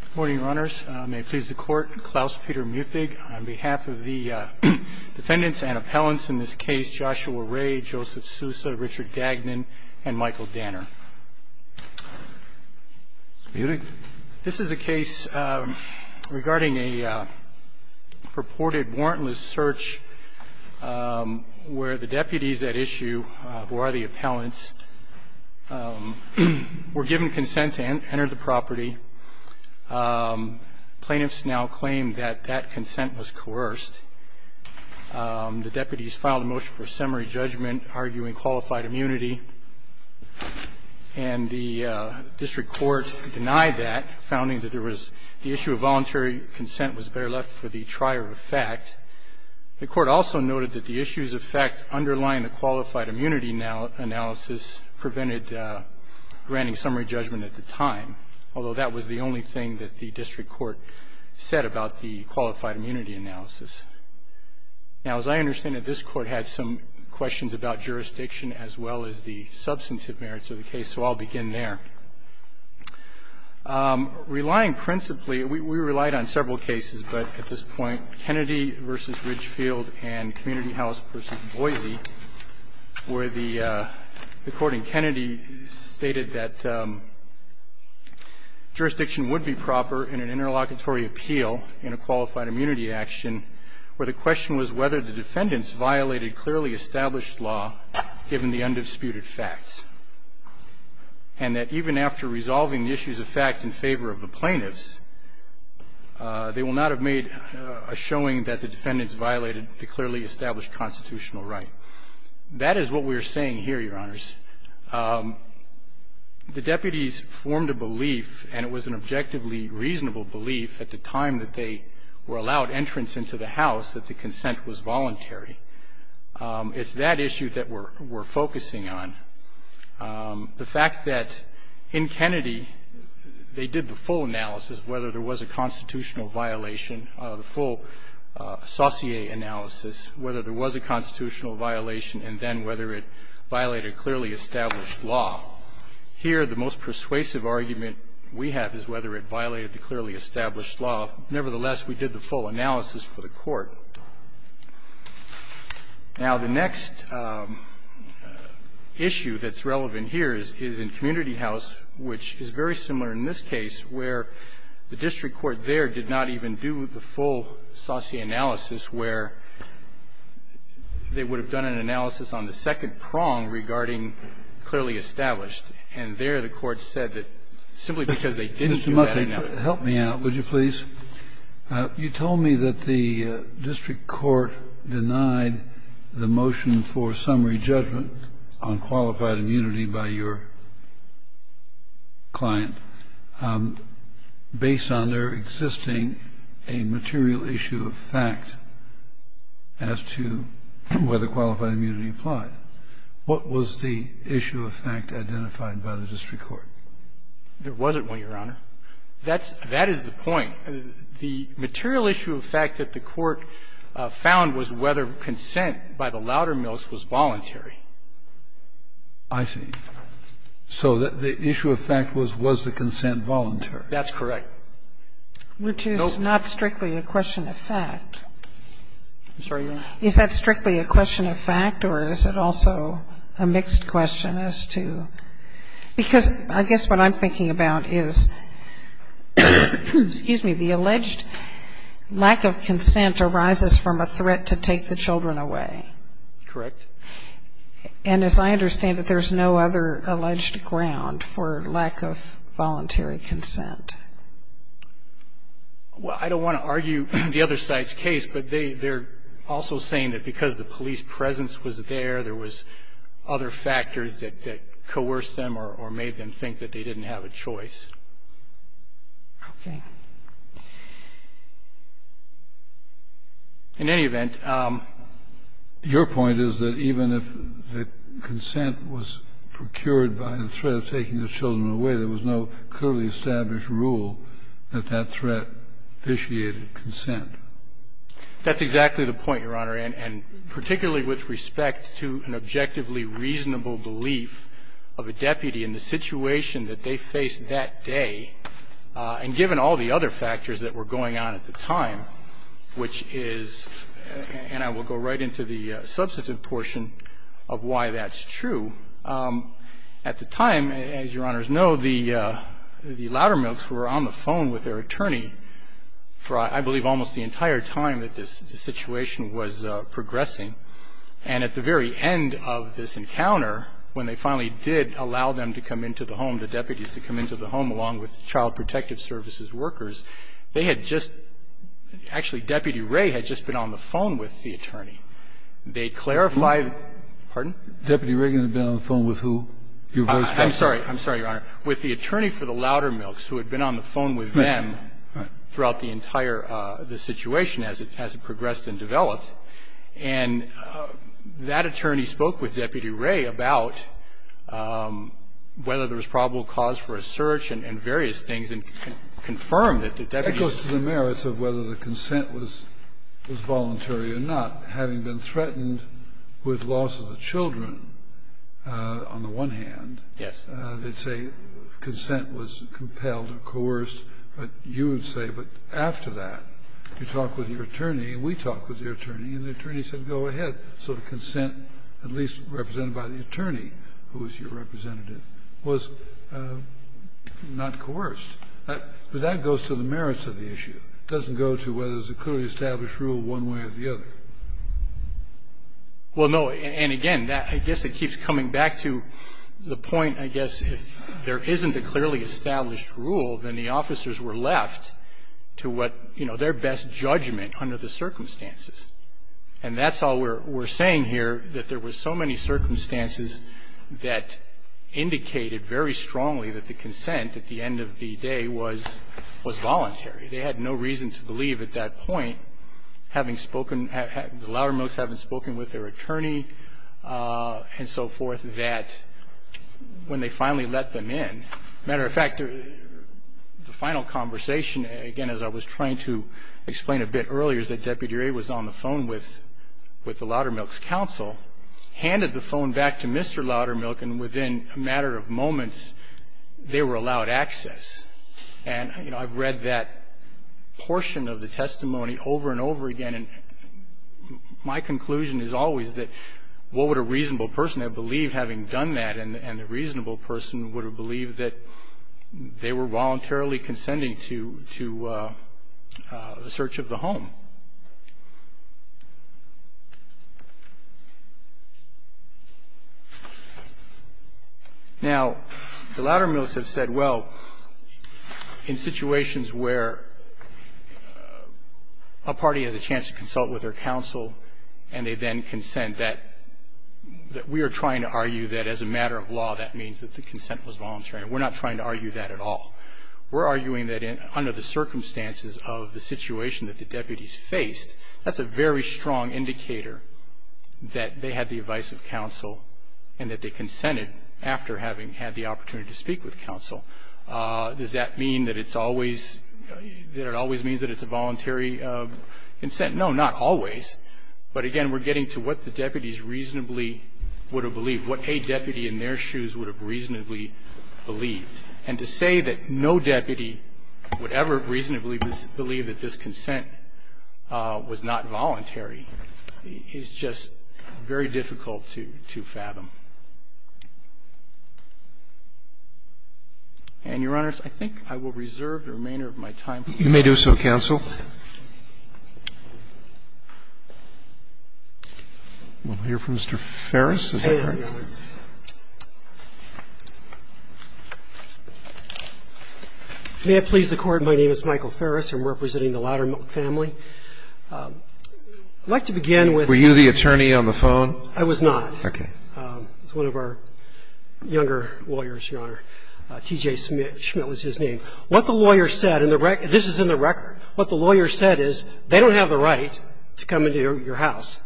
Good morning, Your Honors. May it please the Court, Klaus-Peter Muthig on behalf of the defendants and appellants in this case, Joshua Ray, Joseph Sousa, Richard Gagnon, and Michael Danner. Muthig. This is a case regarding a purported warrantless search where the deputies at issue, who are the appellants, were given consent to enter the property. Plaintiffs now claim that that consent was coerced. The deputies filed a motion for summary judgment, arguing qualified immunity, and the district court denied that, founding that there was the issue of voluntary consent was better left for the trier of fact. The court also noted that the issues of fact underlying the qualified immunity analysis prevented granting summary judgment at the time, although that was the only thing that the district court said about the qualified immunity analysis. Now, as I understand it, this Court had some questions about jurisdiction as well as the substantive merits of the case, so I'll begin there. Relying principally, we relied on several cases, but at this point, Kennedy v. Ridgefield and Community House v. Boise, where the Court in Kennedy stated that jurisdiction would be proper in an interlocutory appeal in a qualified immunity action, where the question was whether the defendants violated clearly established law, given the undisputed facts, and that even after resolving the issues of fact in favor of the plaintiffs, they will not have made a showing that the defendants violated the clearly established constitutional right. That is what we are saying here, Your Honors. The deputies formed a belief, and it was an objectively reasonable belief at the time that they were allowed entrance into the house, that the consent was voluntary. It's that issue that we're focusing on. The fact that in Kennedy, they did the full analysis of whether there was a constitutional violation, the full saucier analysis, whether there was a constitutional violation, and then whether it violated clearly established law. Here, the most persuasive argument we have is whether it violated the clearly established law. Nevertheless, we did the full analysis for the Court. Now, the next issue that's relevant here is in Community House, which is very similar in this case, where the district court there did not even do the full saucier analysis, where they would have done an analysis on the second prong regarding clearly established. And there, the Court said that simply because they didn't do that enough. Kennedy, help me out, would you please? You told me that the district court denied the motion for summary judgment on qualified immunity by your client. Based on their existing, a material issue of fact as to whether qualified immunity applied, what was the issue of fact identified by the district court? There wasn't one, Your Honor. That's the point. The material issue of fact that the Court found was whether consent by the Loudermills was voluntary. I see. So the issue of fact was, was the consent voluntary? That's correct. Which is not strictly a question of fact. I'm sorry, Your Honor? Is that strictly a question of fact, or is it also a mixed question as to? Because I guess what I'm thinking about is, excuse me, the alleged lack of consent arises from a threat to take the children away. Correct. And as I understand it, there's no other alleged ground for lack of voluntary consent. Well, I don't want to argue the other side's case, but they're also saying that because the police presence was there, there was other factors that coerced them or made them think that they didn't have a choice. Okay. In any event, your point is that even if the consent was procured by the threat of taking the children away, there was no clearly established rule that that threat vitiated consent. That's exactly the point, Your Honor, and particularly with respect to an objectively reasonable belief of a deputy in the situation that they faced that day. And given all the other factors that were going on at the time, which is, and I will go right into the substantive portion of why that's true, at the time, as Your Honors know, the Loudermilks were on the phone with their attorney for, I believe, almost the entire time that this situation was progressing. And at the very end of this encounter, when they finally did allow them to come into the home, the deputies to come into the home, along with child protective services workers, they had just – actually, Deputy Ray had just been on the phone with the attorney. They clarified – pardon? Deputy Reagan had been on the phone with who? I'm sorry. I'm sorry, Your Honor. With the attorney for the Loudermilks, who had been on the phone with them throughout the entire situation as it progressed and developed, and that attorney spoke with the jury. The judge was in the wrong and coerced the attorney, and it really had to be something as considerable as probable cause for a search and various things, and confirm it. The deputies to go. That goes to the merits of whether the consent was voluntary or not. Having been threatened with loss of the children on the one hand, they'd say, consent was compelled or coerced. But you would say, but after that, you talk with your attorney, we talk with your attorney, and the attorney said, go ahead. So the consent, at least represented by the attorney, who was your representative, was not coerced. But that goes to the merits of the issue. It doesn't go to whether there's a clearly established rule one way or the other. Well, no, and again, that, I guess it keeps coming back to the point, I guess, if there isn't a clearly established rule, then the officers were left to what, you know, their best judgment under the circumstances. And that's all we're saying here, that there were so many circumstances that indicated very strongly that the consent at the end of the day was voluntary. They had no reason to believe at that point, having spoken, the loudermost having spoken with their attorney and so forth, that when they finally let them in, that matter of fact, the final conversation, again, as I was trying to explain a bit earlier, is that Deputy Ray was on the phone with the Loudermilk's counsel, handed the phone back to Mr. Loudermilk, and within a matter of moments, they were allowed access. And, you know, I've read that portion of the testimony over and over again. And my conclusion is always that what would a reasonable person have believed, having done that, and the reasonable person would have believed that they were voluntarily consenting to the search of the home. Now, the Loudermilks have said, well, in situations where a party has a chance to consult with their counsel and they then consent, that we are trying to argue that as a matter of law, that means that the consent was voluntary. And we're not trying to argue that at all. We're arguing that under the circumstances of the situation that the deputies faced, that's a very strong indicator that they had the advice of counsel and that they consented after having had the opportunity to speak with counsel. Does that mean that it's always, that it always means that it's a voluntary consent? No, not always. But, again, we're getting to what the deputies reasonably would have believed, what a deputy in their shoes would have reasonably believed. And to say that no deputy would ever reasonably believe that this consent was not voluntary is just very difficult to fathom. And, Your Honors, I think I will reserve the remainder of my time. You may do so, counsel. We'll hear from Mr. Ferris. May I please the Court? My name is Michael Ferris. I'm representing the Loudermilk family. I'd like to begin with the attorney on the phone. I was not. Okay. It's one of our younger lawyers, Your Honor. T.J. Schmidt was his name. What the lawyer said, and this is in the record, what the lawyer said is they don't have the right to come into your house,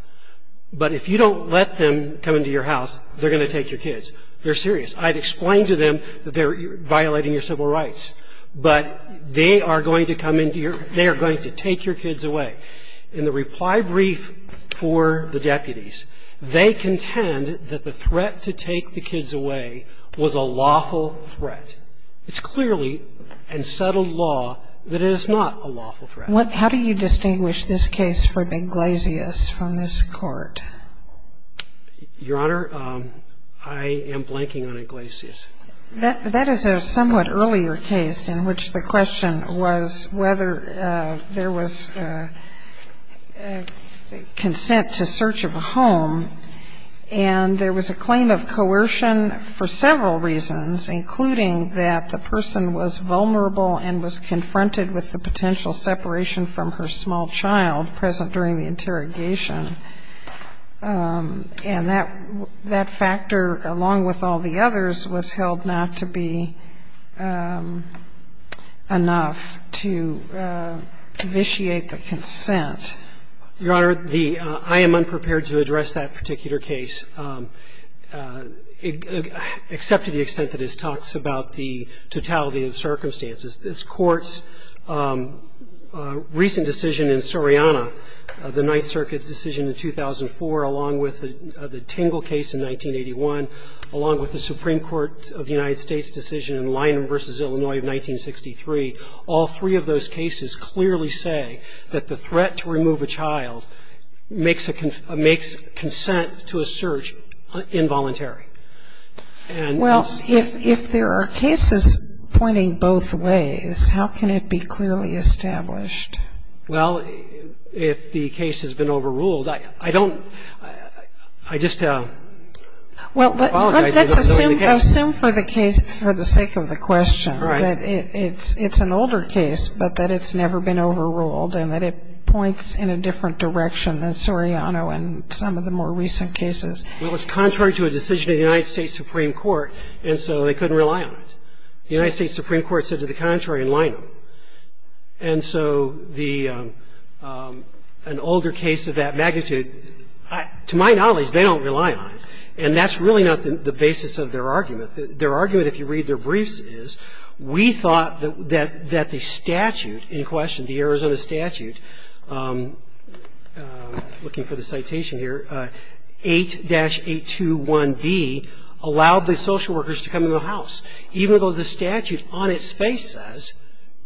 but if you don't let them come into your house, they're going to take your kids. They're serious. I've explained to them that they're violating your civil rights. But they are going to come into your – they are going to take your kids away. In the reply brief for the deputies, they contend that the threat to take the kids away was a lawful threat. It's clearly, in settled law, that it is not a lawful threat. How do you distinguish this case from Iglesias from this Court? Your Honor, I am blanking on Iglesias. That is a somewhat earlier case in which the question was whether there was consent to search of a home, and there was a claim of coercion for several reasons, including that the person was vulnerable and was confronted with the potential separation from her small child present during the interrogation. And that factor, along with all the others, was held not to be enough to vitiate the consent. Your Honor, the – I am unprepared to address that particular case, except to the case that talks about the totality of circumstances. This Court's recent decision in Suriana, the Ninth Circuit decision in 2004, along with the Tingle case in 1981, along with the Supreme Court of the United States decision in Lyman v. Illinois of 1963, all three of those cases clearly say that the threat to remove a child makes consent to a search involuntary. And it's – Well, if there are cases pointing both ways, how can it be clearly established? Well, if the case has been overruled, I don't – I just apologize for not knowing the case. Well, let's assume for the sake of the question that it's an older case, but that it's never been overruled, and that it points in a different direction than Suriano and some of the more recent cases. Well, it's contrary to a decision of the United States Supreme Court, and so they couldn't rely on it. The United States Supreme Court said to the contrary in Lyman. And so the – an older case of that magnitude, to my knowledge, they don't rely on it. And that's really not the basis of their argument. Their argument, if you read their briefs, is we thought that the statute in question, the Arizona statute, looking for the citation here, 8-821B, allowed the social workers to come into the house, even though the statute on its face says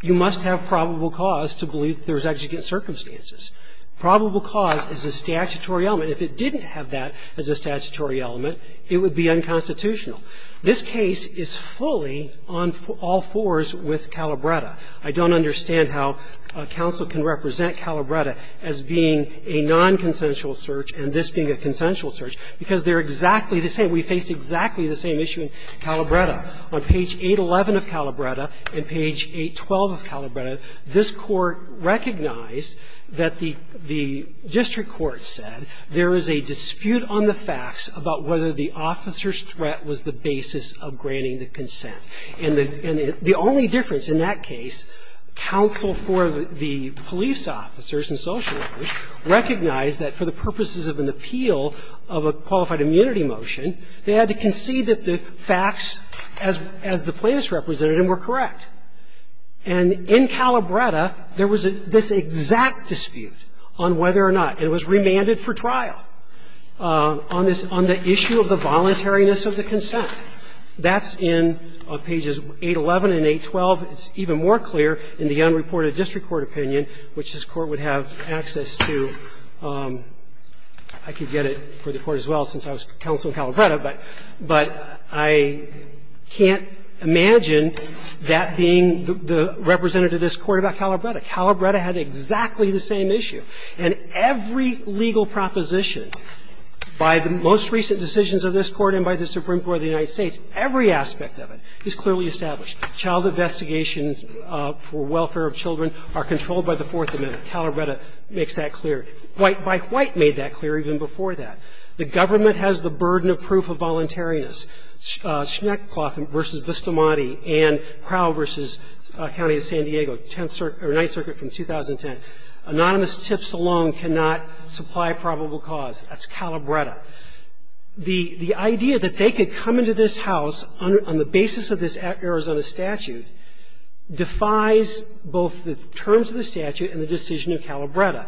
you must have probable cause to believe that there was executive circumstances. Probable cause is a statutory element. If it didn't have that as a statutory element, it would be unconstitutional. This case is fully on all fours with Calabretta. I don't understand how counsel can represent Calabretta as being a nonconsensual search and this being a consensual search, because they're exactly the same. We faced exactly the same issue in Calabretta. On page 811 of Calabretta and page 812 of Calabretta, this Court recognized that the district court said there is a dispute on the facts about whether the officer's threat was the basis of granting the consent. And the only difference in that case, counsel for the police officers and social workers recognized that for the purposes of an appeal of a qualified immunity motion, they had to concede that the facts as the plaintiff's representative were correct. And in Calabretta, there was this exact dispute on whether or not it was remanded for trial on the issue of the voluntariness of the consent. That's in pages 811 and 812. It's even more clear in the unreported district court opinion, which this Court would have access to. I could get it for the Court as well since I was counsel in Calabretta, but I can't imagine that being the representative of this Court about Calabretta. Calabretta had exactly the same issue. And every legal proposition by the most recent decisions of this Court and by the Supreme Court of the United States, every aspect of it is clearly established. Child investigations for welfare of children are controlled by the Fourth Amendment. Calabretta makes that clear. White v. White made that clear even before that. The government has the burden of proof of voluntariness. Schneckcloth v. Vistamati and Crow v. County of San Diego, Tenth Circuit or Ninth Circuit from 2010. Anonymous tips alone cannot supply probable cause. That's Calabretta. The idea that they could come into this house on the basis of this Arizona statute defies both the terms of the statute and the decision of Calabretta.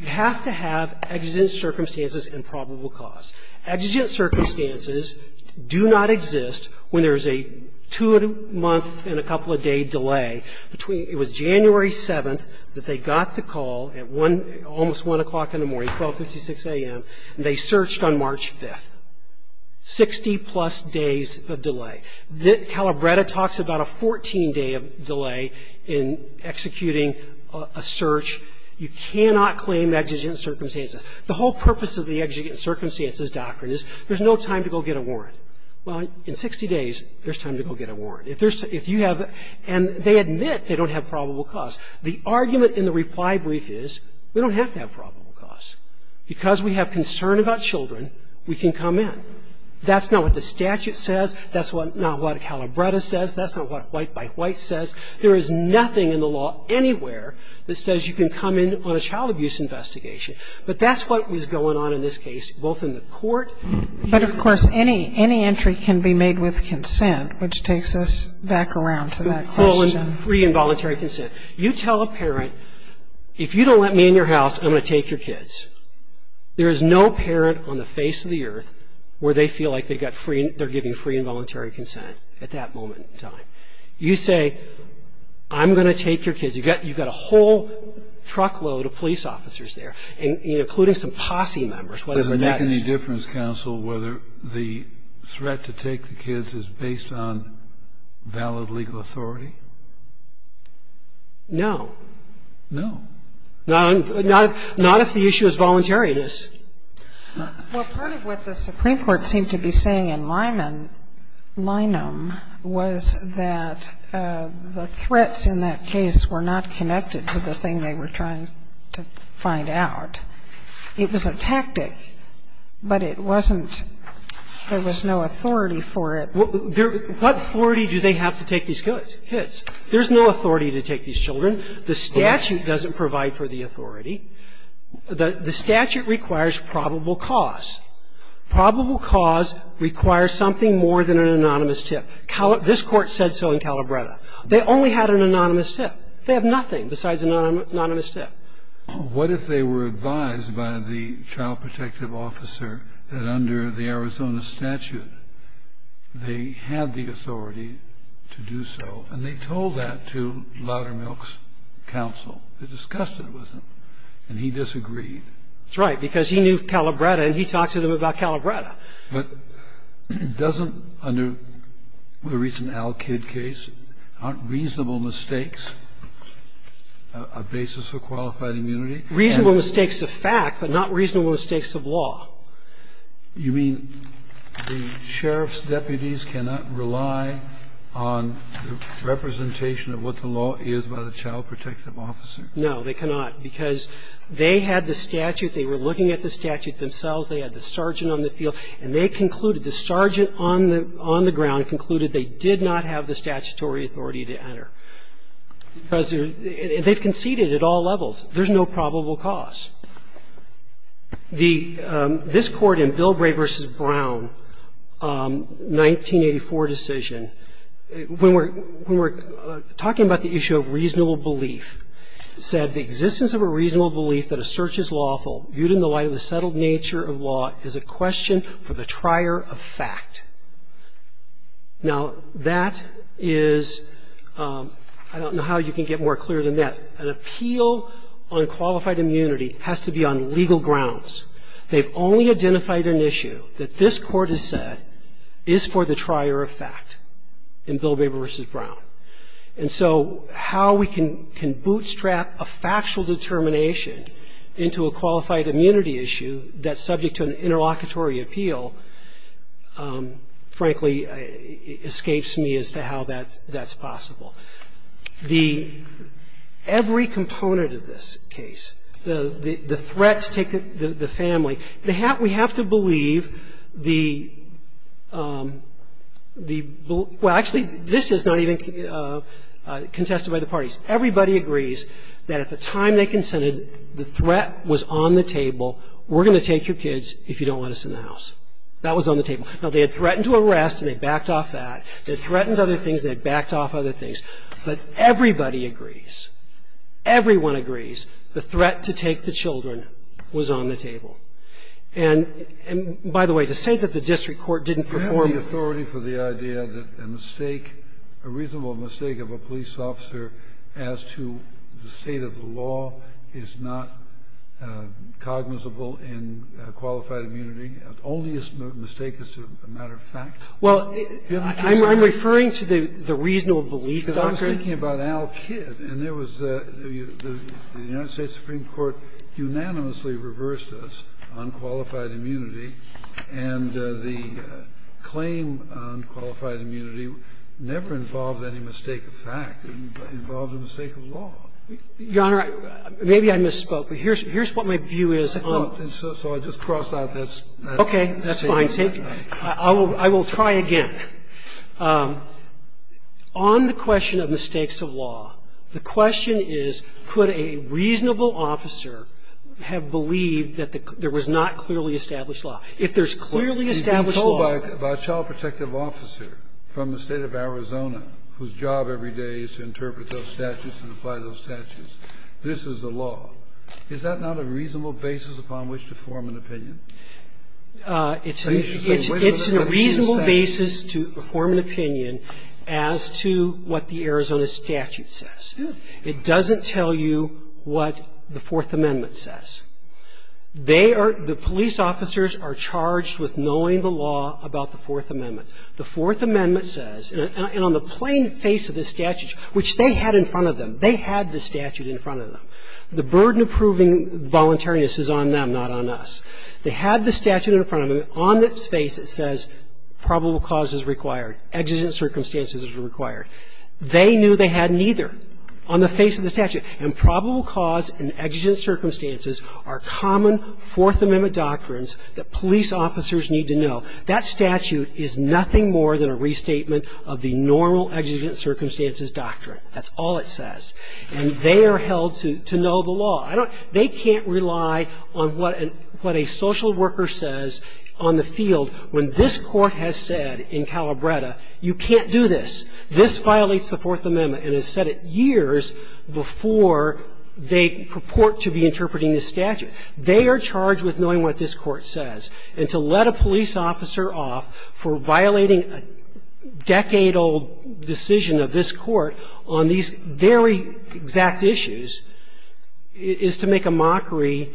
You have to have exigent circumstances and probable cause. Exigent circumstances do not exist when there is a two-month and a couple-a-day delay between the January 7th that they got the call at almost 1 o'clock in the morning, 1256 a.m., and they searched on March 5th. Sixty-plus days of delay. Calabretta talks about a 14-day delay in executing a search. You cannot claim exigent circumstances. The whole purpose of the exigent circumstances doctrine is there's no time to go get a warrant. Well, in 60 days, there's time to go get a warrant. If there's too – if you have – and they admit they don't have probable cause. The argument in the reply brief is we don't have to have probable cause. Because we have concern about children, we can come in. That's not what the statute says. That's not what Calabretta says. That's not what White by White says. There is nothing in the law anywhere that says you can come in on a child abuse investigation. But that's what was going on in this case, both in the court. But, of course, any entry can be made with consent, which takes us back around to that question. Free and voluntary consent. You tell a parent, if you don't let me in your house, I'm going to take your kids. There is no parent on the face of the earth where they feel like they've got free – they're giving free and voluntary consent at that moment in time. You say, I'm going to take your kids. You've got – you've got a whole truckload of police officers there, including some posse members, whatever that is. Does it make any difference, counsel, whether the threat to take the kids is based on valid legal authority? No. No. Not if the issue is voluntariness. Well, part of what the Supreme Court seemed to be saying in Lyman – Lynham was that the threats in that case were not connected to the thing they were trying to find out. It was a tactic, but it wasn't – there was no authority for it. What authority do they have to take these kids? There's no authority to take these children. The statute doesn't provide for the authority. The statute requires probable cause. Probable cause requires something more than an anonymous tip. This Court said so in Calabretta. They only had an anonymous tip. They have nothing besides an anonymous tip. What if they were advised by the child protective officer that under the Arizona statute, they had the authority to do so, and they told that to Loudermilk's counsel. They discussed it with him, and he disagreed. That's right, because he knew Calabretta, and he talked to them about Calabretta. But doesn't – under the recent Al Kid case, aren't reasonable mistakes a basis for qualified immunity? Reasonable mistakes of fact, but not reasonable mistakes of law. You mean the sheriff's deputies cannot rely on representation of what the law is by the child protective officer? No, they cannot, because they had the statute. They were looking at the statute themselves. They had the sergeant on the field, and they concluded, the sergeant on the ground concluded they did not have the statutory authority to enter. Because they've conceded at all levels. There's no probable cause. This court in Bilbray v. Brown, 1984 decision, when we're talking about the issue of reasonable belief, said, the existence of a reasonable belief that a search is lawful, viewed in the light of the settled nature of law, is a question for the trier of fact. Now, that is – I don't know how you can get more clear than that. An appeal on qualified immunity has to be on legal grounds. They've only identified an issue that this court has said is for the trier of fact in Bilbray v. Brown. And so how we can bootstrap a factual determination into a qualified immunity issue that's subject to an interlocutory appeal, frankly, escapes me as to how that's possible. The – every component of this case, the threat to take the family, we have to believe the – well, actually, this is not even contested by the parties. Everybody agrees that at the time they consented, the threat was on the table, we're going to take your kids if you don't let us in the house. That was on the table. Now, they had threatened to arrest, and they backed off that. They threatened other things, and they backed off other things. But everybody agrees, everyone agrees the threat to take the children was on the table. And, by the way, to say that the district court didn't perform the – Kennedy, you have the authority for the idea that a mistake, a reasonable mistake of a police officer as to the state of the law is not cognizable in qualified immunity, only a mistake as to a matter of fact? Well, I'm referring to the reasonable belief, Doctor. I'm thinking about Al Kidd, and there was a – the United States Supreme Court unanimously reversed this on qualified immunity, and the claim on qualified immunity never involved any mistake of fact. It involved a mistake of law. Your Honor, maybe I misspoke, but here's what my view is on it. So I'll just cross out that statement. Okay. That's fine. I will try again. On the question of mistakes of law, the question is, could a reasonable officer have believed that there was not clearly established law? If there's clearly established law – You've been told by a child protective officer from the State of Arizona whose job every day is to interpret those statutes and apply those statutes, this is the law. Is that not a reasonable basis upon which to form an opinion? It's a reasonable basis. It's a reasonable basis to form an opinion as to what the Arizona statute says. It doesn't tell you what the Fourth Amendment says. They are – the police officers are charged with knowing the law about the Fourth Amendment. The Fourth Amendment says – and on the plain face of the statute, which they had in front of them, they had the statute in front of them. The burden of proving voluntariness is on them, not on us. They had the statute in front of them. On its face, it says probable cause is required. Exigent circumstances is required. They knew they had neither on the face of the statute. And probable cause and exigent circumstances are common Fourth Amendment doctrines that police officers need to know. That statute is nothing more than a restatement of the normal exigent circumstances doctrine. That's all it says. And they are held to know the law. I don't – they can't rely on what a social worker says on the field when this Court has said in Calabretta, you can't do this. This violates the Fourth Amendment and has said it years before they purport to be interpreting this statute. They are charged with knowing what this Court says. And to let a police officer off for violating a decade-old decision of this Court on these very exact issues is to make a mockery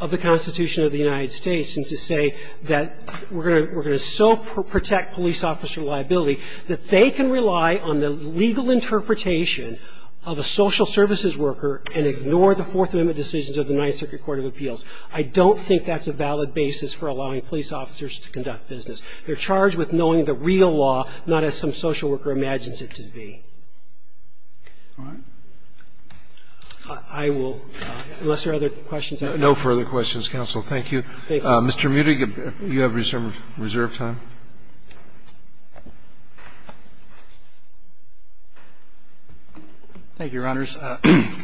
of the Constitution of the United States and to say that we're going to so protect police officer liability that they can rely on the legal interpretation of a social services worker and ignore the Fourth Amendment decisions of the Ninth Circuit Court of Appeals. I don't think that's a valid basis for allowing police officers to conduct business. They're charged with knowing the real law, not as some social worker imagines it to be. I will – unless there are other questions. No further questions, counsel. Thank you. Mr. Mutig, you have reserve time. Thank you, Your Honors.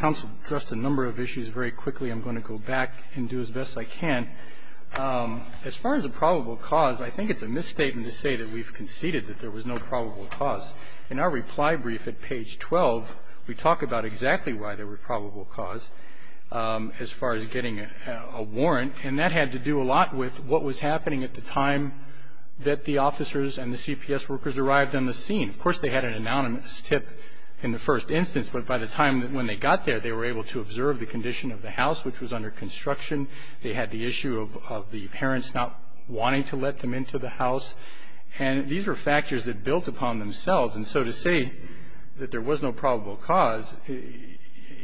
Counsel addressed a number of issues very quickly. I'm going to go back and do as best I can. As far as a probable cause, I think it's a misstatement to say that we've conceded that there was no probable cause. In our reply brief at page 12, we talk about exactly why there were probable cause as far as getting a warrant, and that had to do a lot with what was happening at the time that the officers and the CPS workers arrived on the scene. Of course, they had an anonymous tip in the first instance, but by the time when they got there, they were able to observe the condition of the house, which was under construction. They had the issue of the parents not wanting to let them into the house. And these were factors that built upon themselves. And so to say that there was no probable cause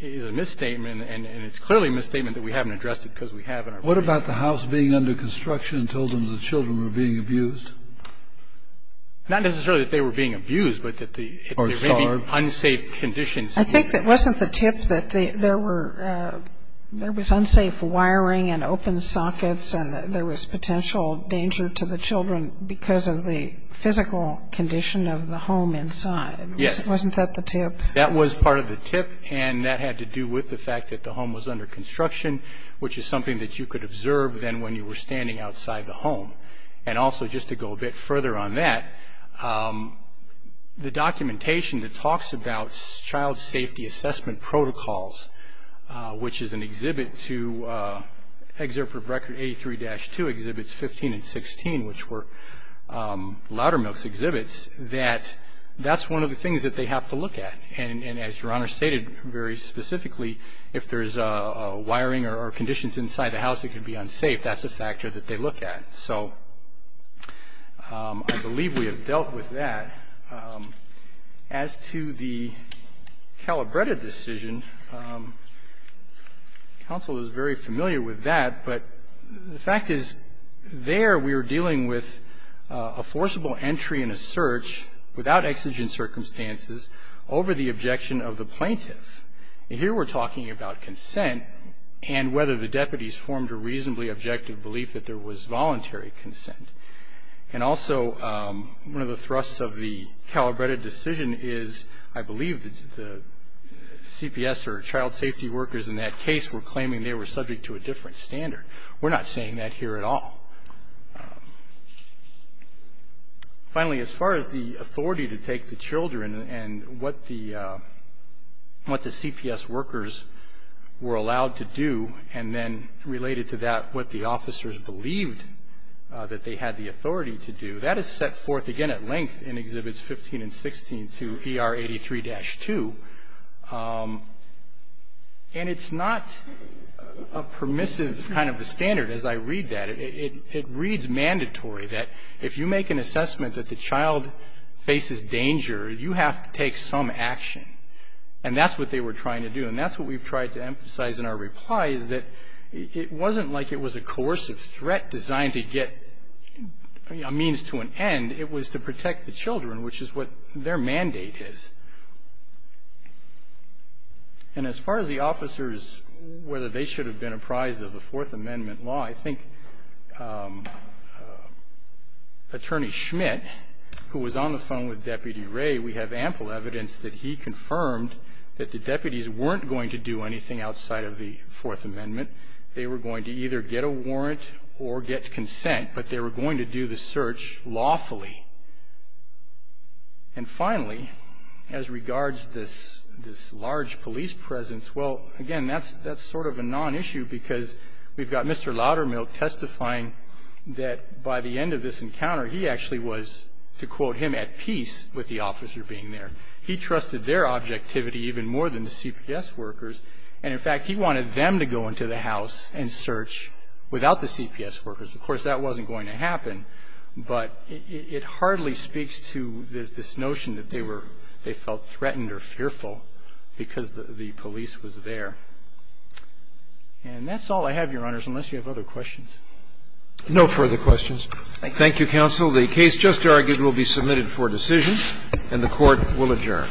is a misstatement, and it's clearly a misstatement that we haven't addressed it because we have in our reply brief. What about the house being under construction and told them that children were being abused? Not necessarily that they were being abused, but that there may be unsafe conditions. I think that wasn't the tip, that there were – there was unsafe wiring and open sockets, and that there was potential danger to the children because of the physical condition of the home inside. Yes. Wasn't that the tip? That was part of the tip, and that had to do with the fact that the home was under construction, which is something that you could observe then when you were standing outside the home. And also, just to go a bit further on that, the documentation that talks about child safety assessment protocols, which is an exhibit to Excerpt of Record 83-2 Exhibits 15 and 16, which were Loudermilk's exhibits, that that's one of the things that they have to look at. And as Your Honor stated very specifically, if there's wiring or conditions inside the house, it could be unsafe. That's a factor that they look at. So I believe we have dealt with that. As to the Calabretta decision, counsel is very familiar with that, but the fact is there we were dealing with a forcible entry and a search without exigent circumstances over the objection of the plaintiff. And here we're talking about consent and whether the deputies formed a reasonably objective belief that there was voluntary consent. And also, one of the thrusts of the Calabretta decision is I believe the CPS or child safety workers in that case were claiming they were subject to a different standard. We're not saying that here at all. Finally, as far as the authority to take the children and what the CPS workers were allowed to do and then related to that what the officers believed that they had the authority to do, that is set forth again at length in Exhibits 15 and 16 to ER 83-2. And it's not a permissive kind of a standard as I read that. It reads mandatory that if you make an assessment that the child faces danger, you have to take some action. And that's what they were trying to do. And that's what we've tried to emphasize in our reply is that it wasn't like it was a coercive threat designed to get a means to an end. It was to protect the children, which is what their mandate is. And as far as the officers, whether they should have been apprised of the Fourth Amendment law, I think Attorney Schmidt, who was on the phone with Deputy Ray, we have ample evidence that he confirmed that the deputies weren't going to do anything outside of the Fourth Amendment. They were going to either get a warrant or get consent, but they were going to do the search lawfully. And finally, as regards this large police presence, well, again, that's sort of a non-issue because we've got Mr. Loudermilk testifying that by the end of this encounter, he actually was, to quote him, at peace with the officer being there. He trusted their objectivity even more than the CPS workers. And in fact, he wanted them to go into the house and search without the CPS workers. Of course, that wasn't going to happen, but it hardly speaks to this notion that they were, they felt threatened or fearful because the police was there. And that's all I have, Your Honors, unless you have other questions. No further questions. Thank you, Counsel. The case just argued will be submitted for decision, and the Court will adjourn.